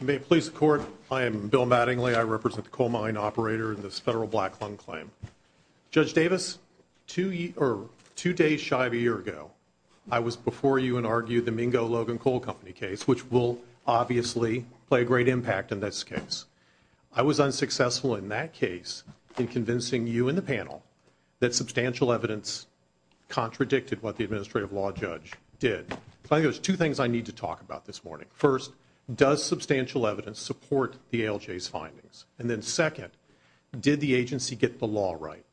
You may please the court. I am Bill Mattingly. I represent the coal mine operator in this federal black lung claim. Judge Davis, two days shy of a year ago I was before you and argued the Mingo Logan Coal Company case which will obviously play a great impact in this case. I was unsuccessful in that case in convincing you and the panel that substantial evidence contradicted what the administrative law judge did. I think there's two things I need to talk about this morning. First, does substantial evidence support the ALJ's findings? And then second, did the agency get the law right?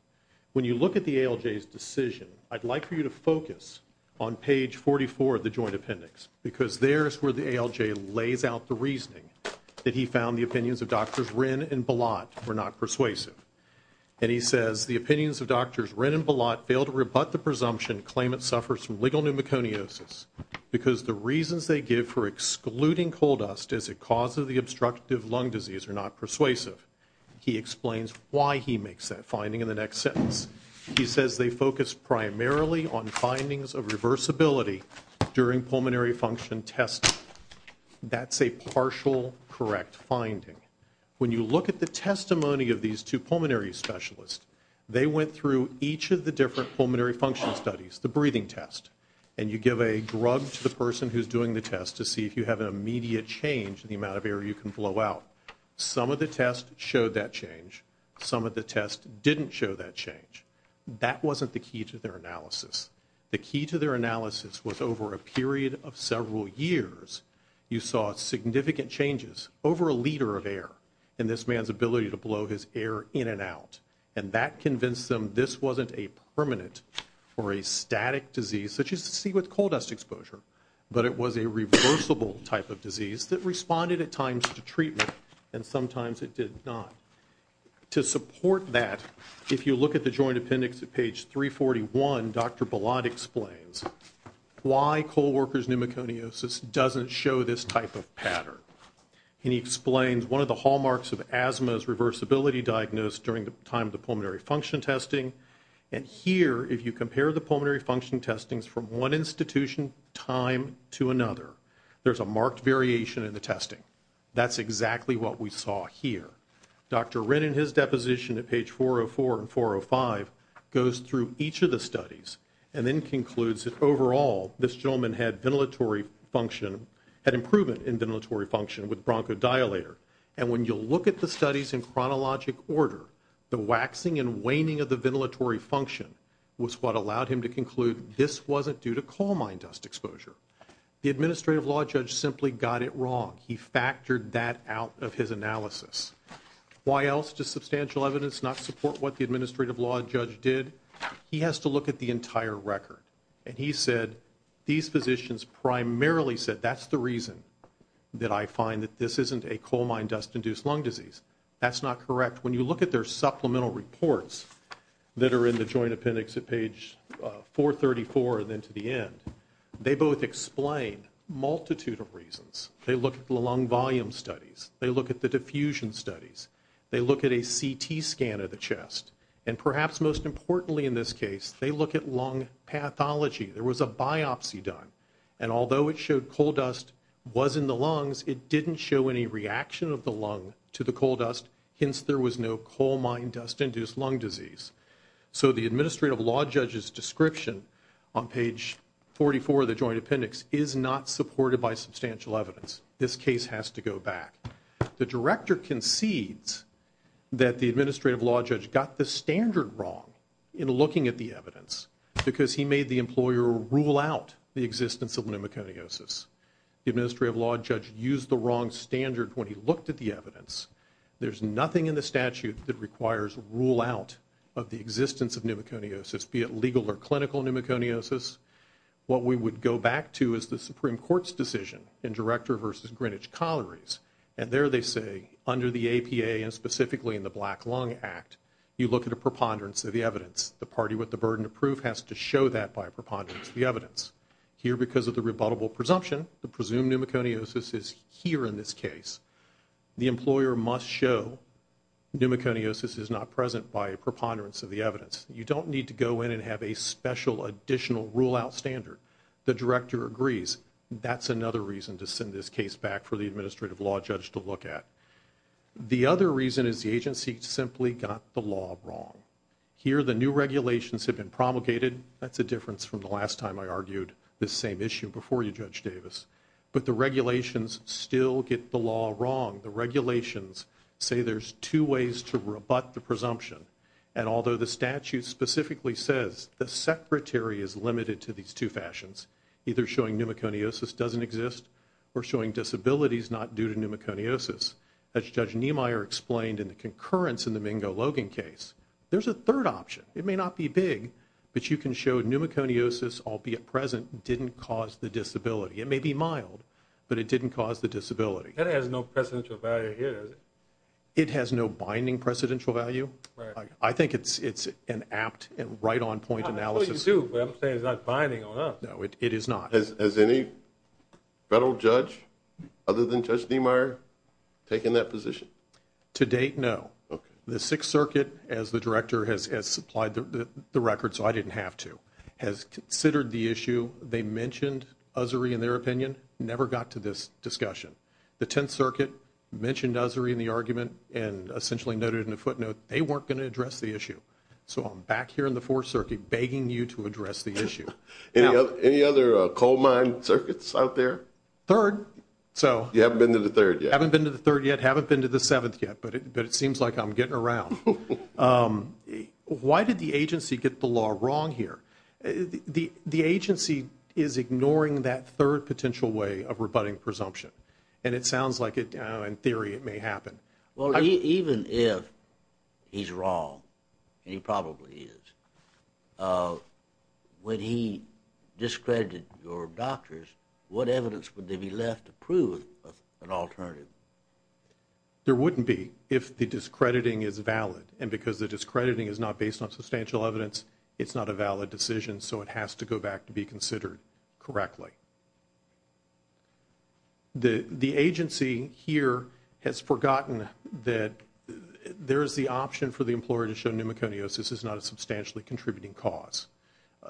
When you look at the ALJ's decision I'd like for you to focus on page 44 of the joint appendix because there's where the ALJ lays out the reasoning that he found the opinions of doctors Wren and Balot were not persuasive. And he says the opinions of doctors Wren and Balot failed to rebut the presumption claim it suffers from excluding coal dust as a cause of the obstructive lung disease are not persuasive. He explains why he makes that finding in the next sentence. He says they focus primarily on findings of reversibility during pulmonary function testing. That's a partial correct finding. When you look at the testimony of these two pulmonary specialists, they went through each of the different pulmonary function studies, the breathing test, and you give a drug to the person who's doing the test to see if you have an immediate change in the amount of air you can blow out. Some of the tests showed that change. Some of the tests didn't show that change. That wasn't the key to their analysis. The key to their analysis was over a period of several years you saw significant changes over a liter of air in this man's ability to blow his air in and out. And that convinced them this wasn't a permanent or a static disease such as to see with coal dust exposure, but it was a reversible type of disease that responded at times to treatment and sometimes it did not. To support that, if you look at the Joint Appendix at page 341, Dr. Balad explains why coal workers pneumoconiosis doesn't show this type of pattern. And he explains one of the hallmarks of asthma is reversibility diagnosed during the time of the pulmonary function testing. And here, if you compare the pulmonary function testings from one institution time to another, there's a marked variation in the testing. That's exactly what we saw here. Dr. Wren and his deposition at page 404 and 405 goes through each of the studies and then concludes that overall this gentleman had ventilatory function, had improvement in ventilatory function with bronchodilator. And when you look at the studies in chronologic order, the waxing and waning of the ventilatory function was what allowed him to say this wasn't due to coal mine dust exposure. The administrative law judge simply got it wrong. He factored that out of his analysis. Why else does substantial evidence not support what the administrative law judge did? He has to look at the entire record. And he said these physicians primarily said that's the reason that I find that this isn't a coal mine dust-induced lung disease. That's not correct. When you look at their supplemental reports that are in the joint appendix at page 434 and then to the end, they both explain multitude of reasons. They look at the lung volume studies. They look at the diffusion studies. They look at a CT scan of the chest. And perhaps most importantly in this case, they look at lung pathology. There was a biopsy done and although it showed coal dust was in the lungs, it didn't show any reaction of the lung to coal dust, hence there was no coal mine dust-induced lung disease. So the administrative law judge's description on page 44 of the joint appendix is not supported by substantial evidence. This case has to go back. The director concedes that the administrative law judge got the standard wrong in looking at the evidence because he made the employer rule out the existence of pneumoconiosis. The administrative law judge used the wrong standard when he looked at the evidence. There's nothing in the statute that requires rule out of the existence of pneumoconiosis, be it legal or clinical pneumoconiosis. What we would go back to is the Supreme Court's decision in Director v. Greenwich Collieries. And there they say, under the APA and specifically in the Black Lung Act, you look at a preponderance of the evidence. The party with the burden of proof has to show that by preponderance of the evidence. Here, because of the employer must show pneumoconiosis is not present by a preponderance of the evidence. You don't need to go in and have a special additional rule out standard. The director agrees. That's another reason to send this case back for the administrative law judge to look at. The other reason is the agency simply got the law wrong. Here, the new regulations have been promulgated. That's a difference from the last time I argued this same issue before you, Judge Davis. But the regulations still get the law wrong. The regulations say there's two ways to rebut the presumption. And although the statute specifically says the secretary is limited to these two fashions, either showing pneumoconiosis doesn't exist or showing disabilities not due to pneumoconiosis, as Judge Niemeyer explained in the concurrence in the Mingo-Logan case, there's a third option. It may not be big, but you can show pneumoconiosis, albeit present, didn't cause the disability. It may be mild, but it didn't cause the disability. That has no precedential value here. It has no binding precedential value. I think it's an apt and right on point analysis. It's not binding on us. No, it is not. Has any federal judge other than Judge Niemeyer taken that position? To date, no. The Sixth Circuit, as the director has supplied the record, so I they mentioned Ussery in their opinion, never got to this discussion. The Tenth Circuit mentioned Ussery in the argument and essentially noted in a footnote they weren't going to address the issue. So I'm back here in the Fourth Circuit begging you to address the issue. Any other coal mine circuits out there? Third. So you haven't been to the third yet? Haven't been to the third yet, haven't been to the seventh yet, but it seems like I'm getting around. Why did the agency is ignoring that third potential way of rebutting presumption? And it sounds like in theory it may happen. Well, even if he's wrong, and he probably is, when he discredited your doctors, what evidence would they be left to prove an alternative? There wouldn't be if the discrediting is valid. And because the discrediting is not based on substantial evidence, it's not a valid decision. So it has to go back to be considered correctly. The agency here has forgotten that there is the option for the employer to show pneumoconiosis is not a substantially contributing cause.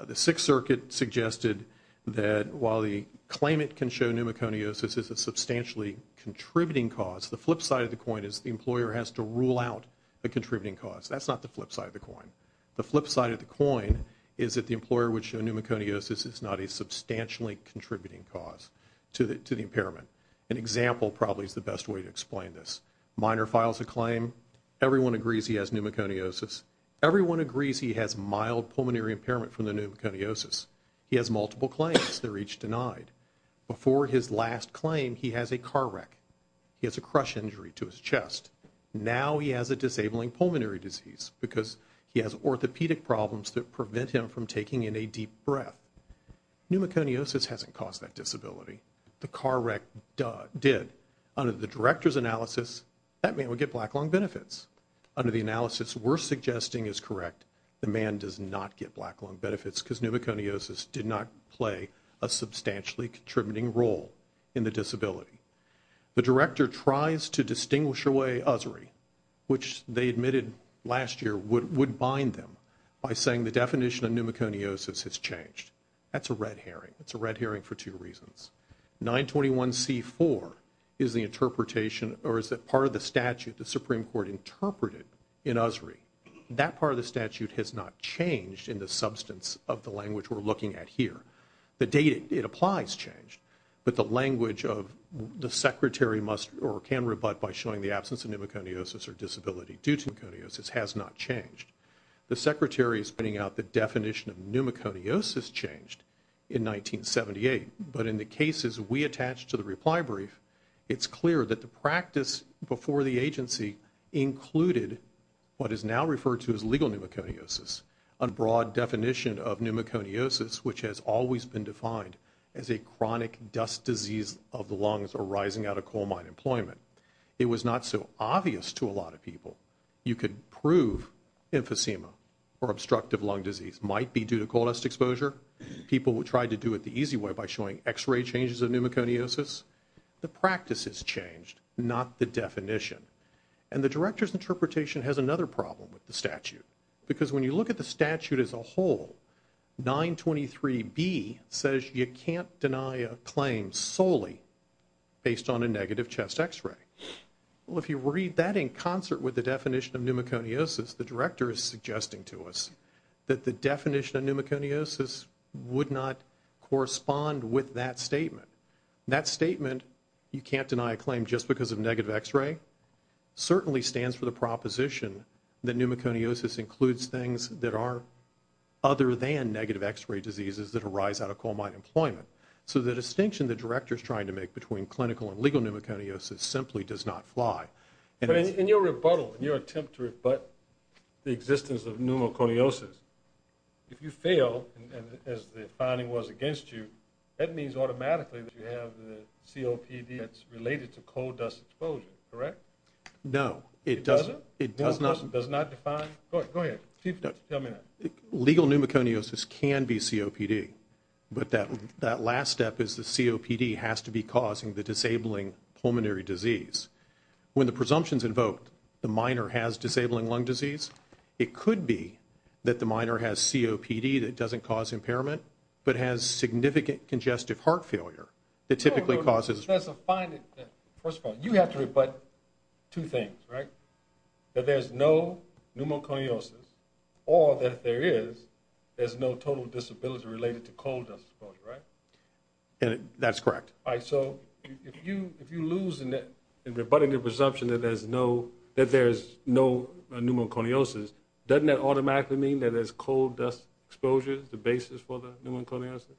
The Sixth Circuit suggested that while the claimant can show pneumoconiosis as a substantially contributing cause, the flip side of the coin is the employer has to rule out the contributing cause. That's not the flip side of the coin. The flip side of the coin is that the pneumoconiosis is not a substantially contributing cause to the impairment. An example probably is the best way to explain this. Minor files a claim, everyone agrees he has pneumoconiosis, everyone agrees he has mild pulmonary impairment from the pneumoconiosis. He has multiple claims, they're each denied. Before his last claim, he has a car wreck. He has a crush injury to his chest. Now he has a disabling pulmonary disease because he has orthopedic problems that prevent him from taking in a deep breath. Pneumoconiosis hasn't caused that disability. The car wreck did. Under the director's analysis, that man would get black lung benefits. Under the analysis we're suggesting is correct, the man does not get black lung benefits because pneumoconiosis did not play a substantially contributing role in the disability. The director tries to distinguish away USRI, which they admitted last year, would bind them by saying the definition of pneumoconiosis has changed. That's a red herring. It's a red herring for two reasons. 921c4 is the interpretation or is that part of the statute the Supreme Court interpreted in USRI. That part of the statute has not changed in the substance of the language we're looking at here. The date it applies changed, but the language of the secretary must or can rebut by showing the absence of pneumoconiosis or pneumoconiosis has not changed. The secretary is putting out the definition of pneumoconiosis changed in 1978, but in the cases we attached to the reply brief, it's clear that the practice before the agency included what is now referred to as legal pneumoconiosis, a broad definition of pneumoconiosis which has always been defined as a chronic dust disease of the lungs arising out of you could prove emphysema or obstructive lung disease might be due to cold dust exposure. People will try to do it the easy way by showing x-ray changes of pneumoconiosis. The practice has changed, not the definition. And the director's interpretation has another problem with the statute because when you look at the statute as a whole, 923b says you can't deny a claim solely based on a negative chest x-ray. Well if you read that in concert with the definition of pneumoconiosis, the director is suggesting to us that the definition of pneumoconiosis would not correspond with that statement. That statement, you can't deny a claim just because of negative x-ray, certainly stands for the proposition that pneumoconiosis includes things that are other than negative x-ray diseases that arise out of coal mine employment. So the distinction the director is trying to make between clinical and legal pneumoconiosis simply does not fly. But in your rebuttal, in your attempt to rebut the existence of pneumoconiosis, if you fail as the finding was against you, that means automatically that you have the COPD that's related to coal dust exposure, correct? No. It does not. It does not define. Go ahead. Legal pneumoconiosis can be COPD, but that that last step is the COPD has to be causing the disabling pulmonary disease. When the presumptions invoked, the minor has disabling lung disease, it could be that the minor has COPD that doesn't cause impairment, but has significant congestive heart failure that typically causes... First of all, you have to rebut two things, right? That there's no pneumoconiosis, or that there is, there's no total disability related to coal dust exposure, right? That's correct. All right, so if you lose in rebutting the presumption that there's no pneumoconiosis, doesn't that automatically mean that there's coal dust exposure the basis for the pneumoconiosis?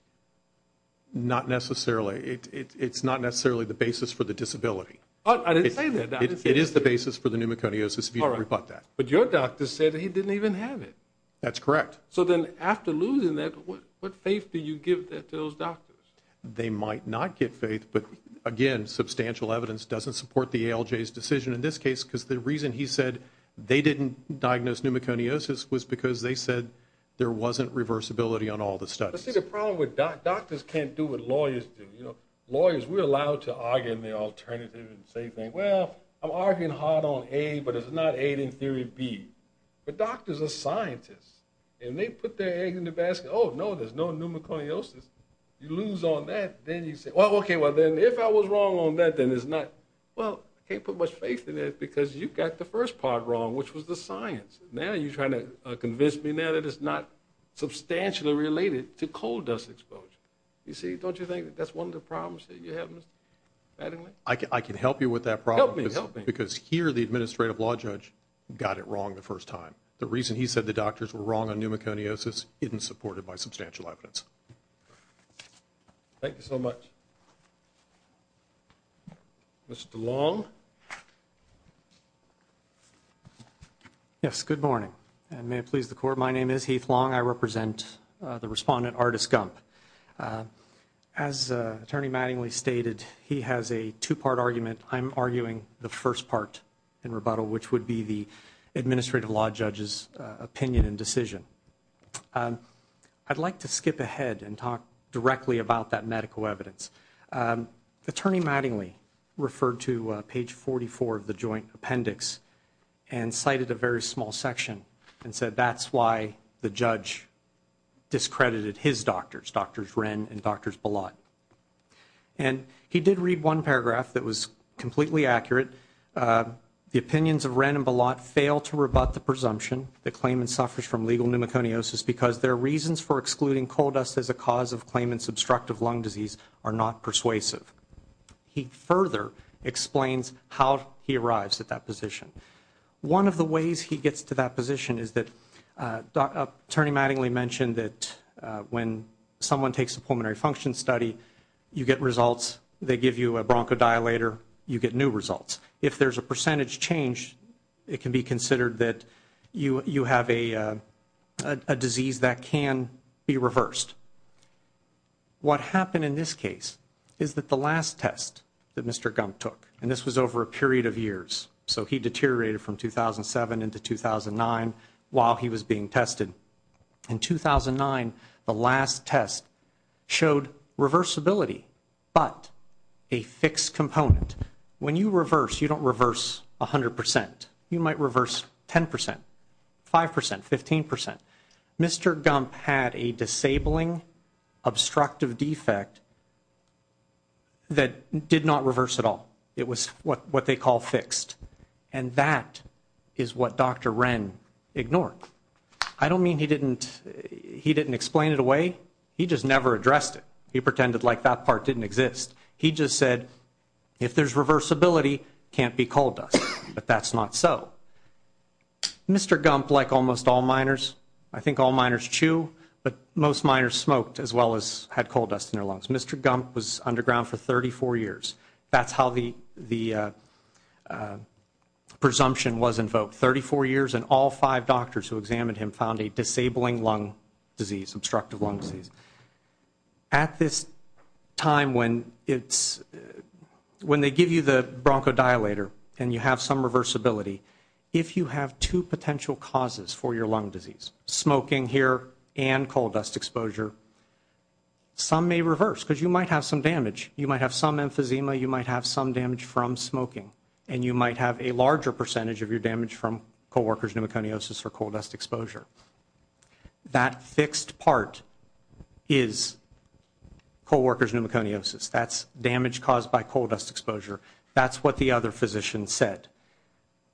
Not necessarily. It's not necessarily the basis for the disability. I didn't say that. It is the basis for the pneumoconiosis if you rebut that. But your doctor said he didn't even have it. That's correct. So then after losing that, what faith do you give that to those who have faith, but again, substantial evidence doesn't support the ALJ's decision in this case, because the reason he said they didn't diagnose pneumoconiosis was because they said there wasn't reversibility on all the studies. See, the problem with doctors can't do what lawyers do. You know, lawyers, we're allowed to argue in the alternative and say things. Well, I'm arguing hard on A, but it's not A in theory B. But doctors are scientists, and they put their eggs in the Okay, well then, if I was wrong on that, then it's not, well, I can't put much faith in it, because you've got the first part wrong, which was the science. Now you're trying to convince me now that it's not substantially related to coal dust exposure. You see, don't you think that that's one of the problems that you have, Mr. Mattingly? I can help you with that problem, because here the administrative law judge got it wrong the first time. The reason he said the doctors were wrong on pneumoconiosis isn't supported by substantial evidence. Thank you so much. Mr. Long? Yes, good morning, and may it please the Court, my name is Heath Long. I represent the respondent, Ardis Gump. As Attorney Mattingly stated, he has a two-part argument. I'm arguing the first part in rebuttal, which would be the and talk directly about that medical evidence. Attorney Mattingly referred to page 44 of the joint appendix and cited a very small section and said that's why the judge discredited his doctors, Drs. Wren and Drs. Belot. And he did read one paragraph that was completely accurate. The opinions of Wren and Belot fail to rebut the presumption that claimant suffers from legal pneumoconiosis because their reasons for excluding coal dust as a cause of claimant's obstructive lung disease are not persuasive. He further explains how he arrives at that position. One of the ways he gets to that position is that Attorney Mattingly mentioned that when someone takes a pulmonary function study, you get results, they give you a bronchodilator, you get new results. If there's a percentage change, it can be considered that you have a disease that can be reversed. What happened in this case is that the last test that Mr. Gump took, and this was over a period of years, so he deteriorated from 2007 into 2009 while he was being tested. In 2009, the last test showed reversibility but a fixed component. When you reverse, you don't reverse a hundred percent. You might reverse ten percent, five percent, fifteen percent. Mr. Gump had a disabling obstructive defect that did not reverse at all. It was what what they call fixed. And that is what Dr. Wren ignored. I don't mean he didn't he didn't explain it away. He just never addressed it. He pretended like that part didn't exist. He just said, if there's reversibility, can't be coal dust. But that's not so. Mr. Gump, like almost all minors, I think all minors chew, but most minors smoked as well as had coal dust in their lungs. Mr. Gump was underground for 34 years. That's how the the presumption was invoked. 34 years and all five doctors who examined him found a disabling lung disease, obstructive lung disease. At this time when it's when they give you the bronchodilator and you have some reversibility, if you have two potential causes for your lung disease, smoking here and coal dust exposure, some may reverse because you might have some damage. You might have some emphysema. You might have some damage from smoking and you might have a larger percentage of your damage from coworkers pneumoconiosis or coal dust exposure. That fixed part is coworkers pneumoconiosis. That's damage caused by coal dust exposure. That's what the other physician said.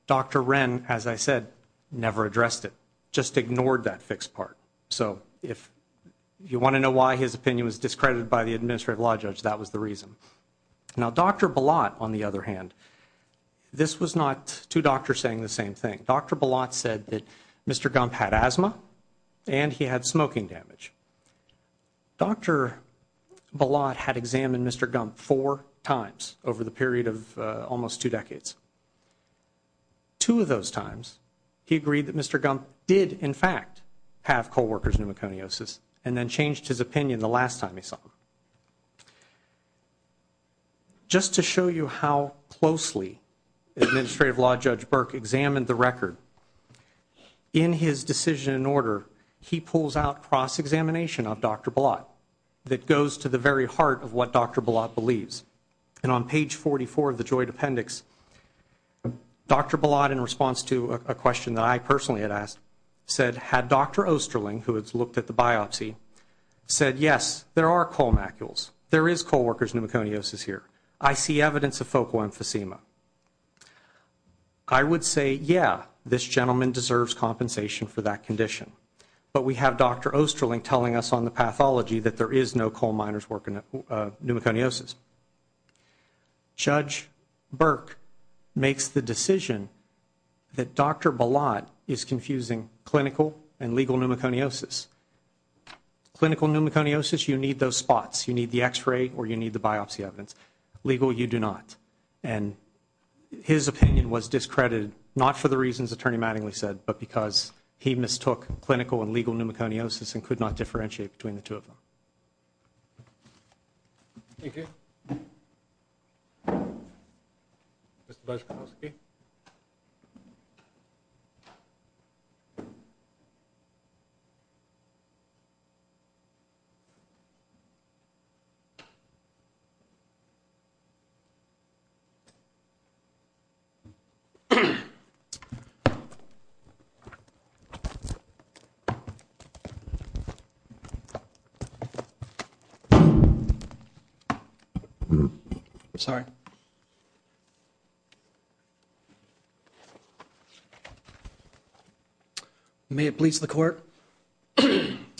Dr. Wren, as I said, never addressed it. Just ignored that fixed part. So if you want to know why his opinion was discredited by the Administrative Law Judge, that was the reason. Now Dr. Balot, on the other hand, this was not two Mr. Gump had asthma and he had smoking damage. Dr. Balot had examined Mr. Gump four times over the period of almost two decades. Two of those times he agreed that Mr. Gump did in fact have coworkers pneumoconiosis and then changed his opinion the last time he saw him. Just to show you how closely the Administrative Law Judge Burke examined the record, in his decision and order he pulls out cross-examination of Dr. Balot that goes to the very heart of what Dr. Balot believes. And on page 44 of the joint appendix, Dr. Balot, in response to a question that I personally had asked, said had Dr. Oesterling, who had looked at the biopsy, said yes there are coal macules, there is coworkers pneumoconiosis here. I see evidence of focal emphysema. I would say yeah this gentleman deserves compensation for that condition. But we have Dr. Oesterling telling us on the pathology that there is no coal miners working pneumoconiosis. Judge Burke makes the decision that Dr. Balot is confusing clinical and legal pneumoconiosis. Clinical pneumoconiosis, you need those spots. You need the x-ray or you need the X-rays. Legal, you do not. And his opinion was discredited, not for the reasons Attorney Mattingly said, but because he mistook clinical and legal pneumoconiosis and could not differentiate between the two of them. Sorry. May it please the court,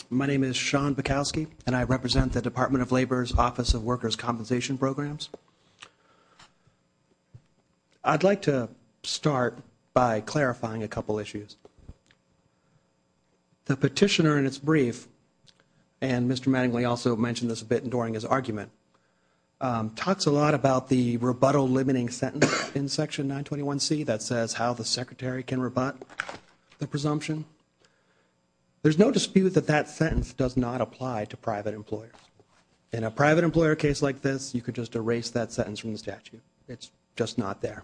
my name is Sean Bukowski and I represent the I'd like to start by clarifying a couple issues. The petitioner in its brief, and Mr. Mattingly also mentioned this a bit during his argument, talks a lot about the rebuttal limiting sentence in section 921C that says how the secretary can rebut the presumption. There's no dispute that that sentence does not apply to private employers. In a private employer case like this, you could just erase that sentence from the statute. It's just not there.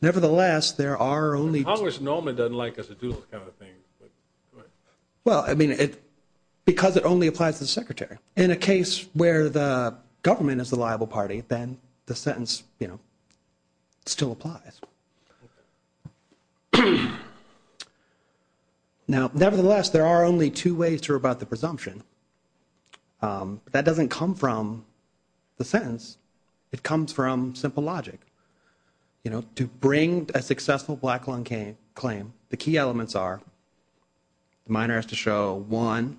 Nevertheless, there are only... Congress normally doesn't like us to do those kind of things. Well, I mean, because it only applies to the secretary. In a case where the government is the liable party, then the sentence, you know, still applies. Now, nevertheless, there are only two ways to rebut the presumption. That doesn't come from the sentence. It comes from simple logic. You know, to bring a successful black lung claim, the key elements are, the minor has to show, one,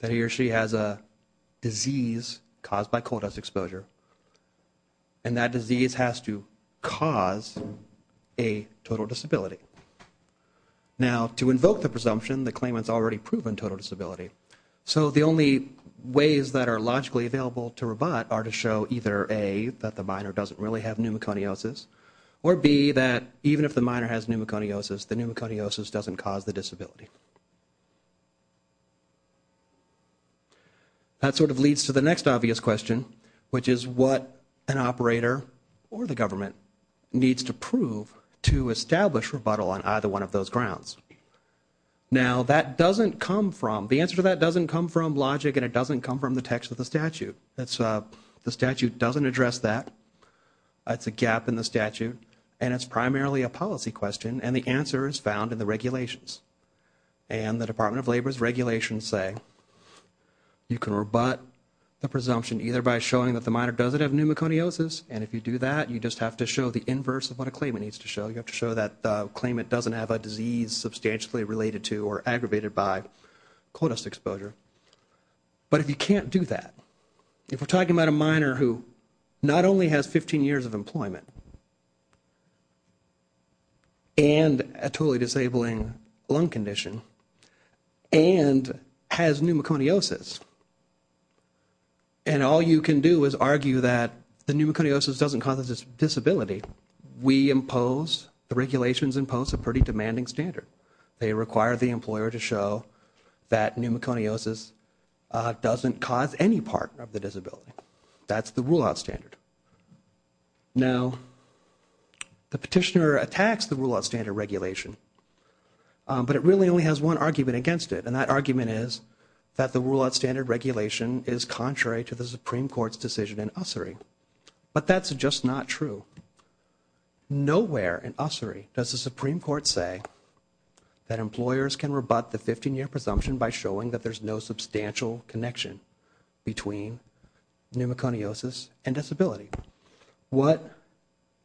that he or she has a disease caused by coal dust exposure, and that disease has to cause a total disability. Now, to invoke the presumption, the claimant's already proven total disability. So the only ways that are logically available to rebut are to show either, A, that the minor doesn't really have pneumoconiosis, or B, that even if the minor has pneumoconiosis, the pneumoconiosis doesn't cause the disability. That sort of leads to the next obvious question, which is what an operator or the government needs to establish rebuttal on either one of those grounds. Now, that doesn't come from, the answer to that doesn't come from logic, and it doesn't come from the text of the statute. The statute doesn't address that. It's a gap in the statute, and it's primarily a policy question, and the answer is found in the regulations. And the Department of Labor's regulations say you can rebut the presumption either by showing that the minor doesn't have pneumoconiosis, and if you do that, you just have to show the inverse of what a claimant needs to show. You have to show that the claimant doesn't have a disease substantially related to or aggravated by cold dust exposure. But if you can't do that, if we're talking about a minor who not only has 15 years of employment and a totally disabling lung condition and has pneumoconiosis, and all you can do is show that pneumoconiosis doesn't cause a disability, we impose, the regulations impose a pretty demanding standard. They require the employer to show that pneumoconiosis doesn't cause any part of the disability. That's the rule-out standard. Now, the petitioner attacks the rule-out standard regulation, but it really only has one argument against it, and that argument is that the rule-out standard regulation is contrary to the Supreme Court's decision in Ussery. But that's just not true. Nowhere in Ussery does the Supreme Court say that employers can rebut the 15-year presumption by showing that there's no substantial connection between pneumoconiosis and disability. What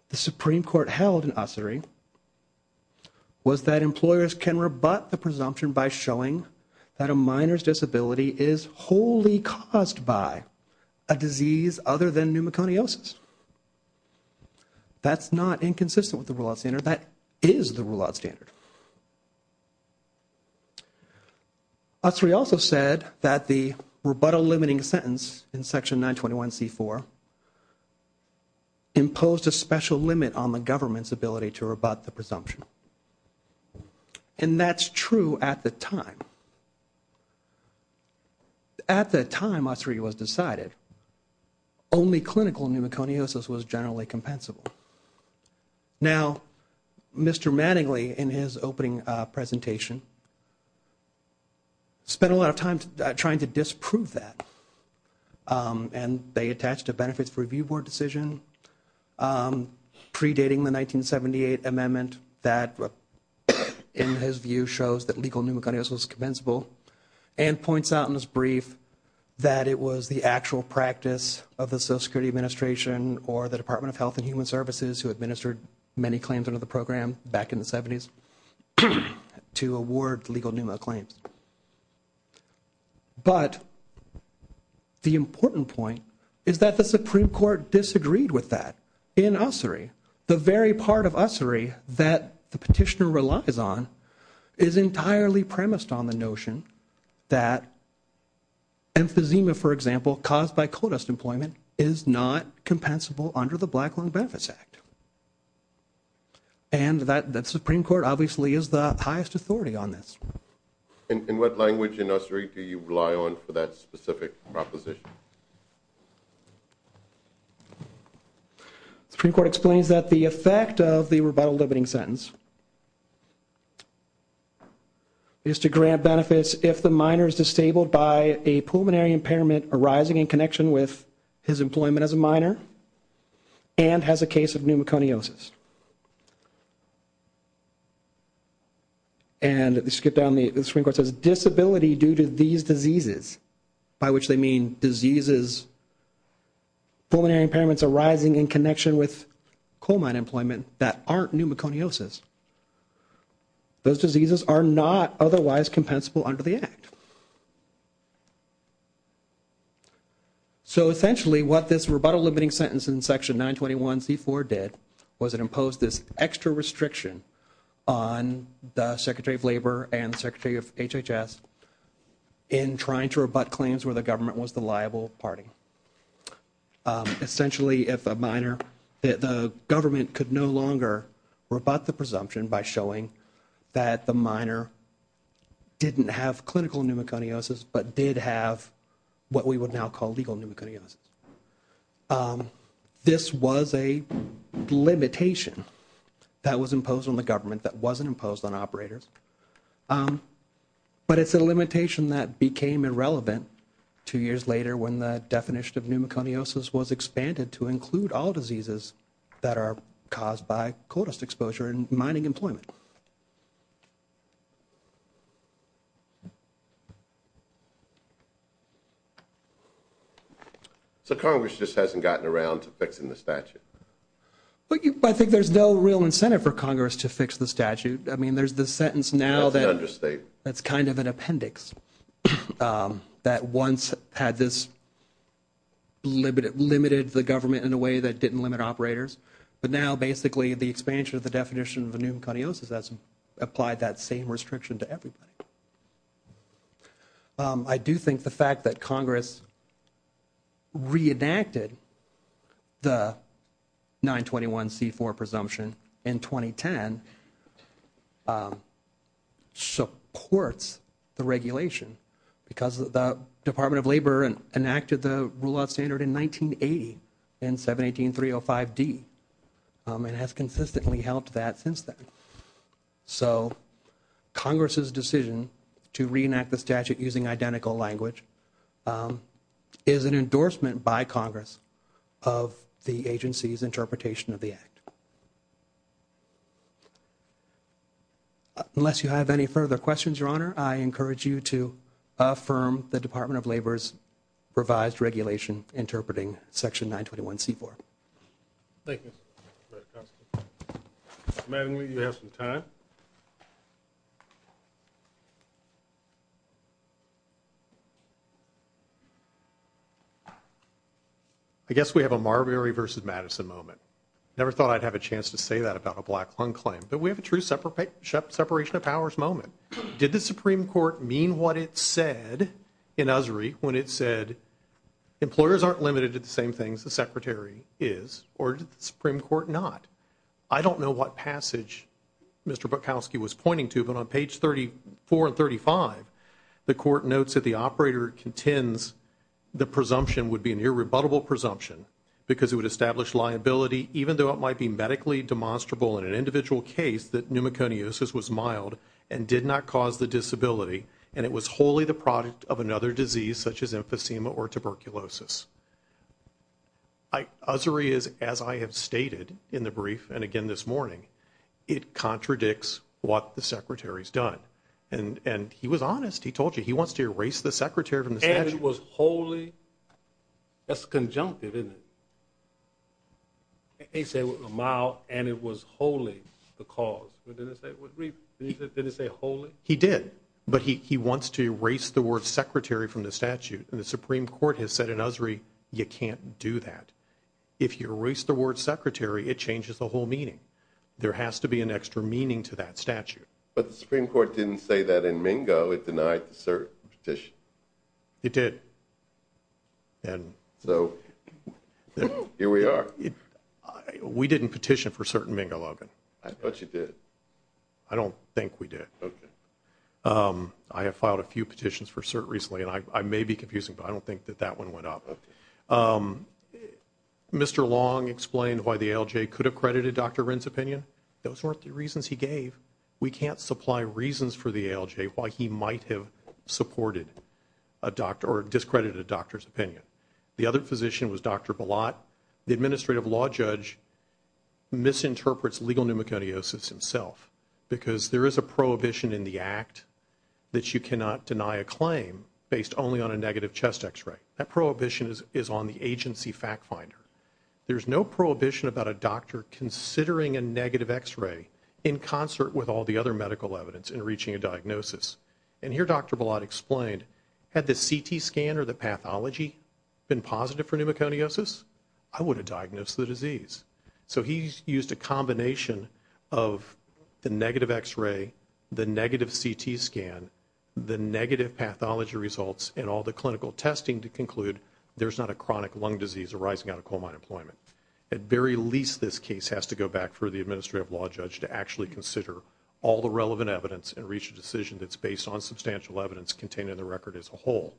the Supreme Court held in Ussery was that employers can rebut the presumption by showing that a minor's disability is wholly caused by a disease other than pneumoconiosis. That's not inconsistent with the rule-out standard. That is the rule-out standard. Ussery also said that the rebuttal limiting sentence in section 921c4 imposed a special limit on the government's ability to rebut the presumption at the time. At the time Ussery was decided, only clinical pneumoconiosis was generally compensable. Now, Mr. Mattingly, in his opening presentation, spent a lot of time trying to disprove that, and they attached a benefits review board decision predating the 1978 amendment that, in his view, shows that legal pneumoconiosis was compensable and points out in his brief that it was the actual practice of the Social Security Administration or the Department of Health and Human Services, who administered many claims under the program back in the 70s, to award legal pneumo claims. But the important point is that the Supreme Court disagreed with that in Ussery. The very part of Ussery that the petitioner relies on is entirely premised on the notion that emphysema, for example, caused by coal dust employment is not compensable under the Black Lung Benefits Act. And that the Supreme Court obviously is the highest authority on this. In what language in Ussery do you rely on for that specific proposition? The Supreme Court explains that the effect of the rebuttal limiting sentence is to grant benefits if the minor is disabled by a pulmonary impairment arising in connection with his employment as a minor and has a case of pneumoconiosis. And to skip down, the Supreme Court says disability due to these diseases, by which they mean diseases, pulmonary impairments arising in connection with coal mine employment that aren't pneumoconiosis. Those diseases are not otherwise compensable under the Act. So essentially what this rebuttal limiting sentence in section 921c4 did was it imposed this extra restriction on the Secretary of Labor and Secretary of HHS in trying to rebut claims where the government was the liable party. Essentially if a minor, the government could no longer rebut the presumption by showing that the minor didn't have clinical pneumoconiosis but did have what we would now call legal pneumoconiosis. This was a limitation that was imposed on the government that wasn't imposed on operators. But it's a limitation that became irrelevant two years later when the definition of pneumoconiosis was expanded to include all diseases that are caused by coal dust exposure and mining employment. So Congress just hasn't gotten around to fixing the statute? I think there's no real incentive for Congress to fix the statute. I mean there's the sentence now that's kind of an appendix that once had this limited the government in a way that didn't limit operators. But now basically the expansion of the definition of pneumoconiosis has applied that same Congress reenacted the 921c4 presumption in 2010 supports the regulation because the Department of Labor enacted the rule of standard in 1980 and 718.305d and has consistently helped that since then. So Congress's decision to reenact the statute using identical language is an endorsement by Congress of the agency's interpretation of the act. Unless you have any further questions your honor I encourage you to affirm the Department of Labor's revised regulation interpreting section 921c4. I guess we have a Marbury versus Madison moment. Never thought I'd have a chance to say that about a black lung claim but we have a true separation of powers moment. Did the Supreme Court mean what it said in Usry when it said employers aren't limited to the same things the Secretary is or did the Supreme Court not? I don't know what passage Mr. Bukowski was pointing to but on page 34 and 35 the court notes that the operator contends the presumption would be an irrebuttable presumption because it would establish liability even though it might be medically demonstrable in an individual case that pneumoconiosis was mild and did not cause the disability and it was wholly the product of another disease such as emphysema or tuberculosis. Usry is as I have stated in the brief and again this morning it contradicts what the Secretary's done and and he was honest he told you he wants to erase the Secretary from the statute. And it was wholly, that's conjunctive isn't it? He said mild and it was wholly the cause. Didn't it say wholly? He did but he wants to erase the word secretary from the statute and the Supreme Court has said in Usry you can't do that. If you erase the word secretary it changes the whole meaning. There has to be an extra meaning to that statute. But the Supreme Court didn't say that in It did. And so here we are. We didn't petition for cert in Mingo Logan. I thought you did. I don't think we did. I have filed a few petitions for cert recently and I may be confusing but I don't think that that one went up. Mr. Long explained why the ALJ could have credited Dr. Wren's opinion. Those weren't the reasons he gave. We can't supply reasons for the ALJ why he might have supported a doctor or discredited a doctor's opinion. The other physician was Dr. Balot. The administrative law judge misinterprets legal pneumoconiosis himself because there is a prohibition in the act that you cannot deny a claim based only on a negative chest x-ray. That prohibition is on the agency factfinder. There's no prohibition about a doctor considering a negative x-ray in concert with all the other medical evidence in reaching a diagnosis. And here Dr. Balot explained, had the CT scan or the pathology been positive for pneumoconiosis, I would have diagnosed the disease. So he used a combination of the negative x-ray, the negative CT scan, the negative pathology results, and all the clinical testing to conclude there's not a chronic lung disease arising out of coal mine employment. At very least this case has to go back for the administrative law judge to actually consider all the relevant evidence and based on substantial evidence contained in the record as a whole.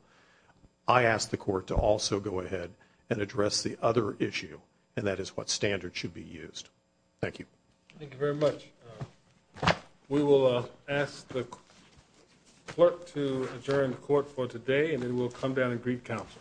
I asked the court to also go ahead and address the other issue and that is what standards should be used. Thank you. Thank you very much. We will ask the clerk to adjourn the court for today and then we'll come down and greet counsel.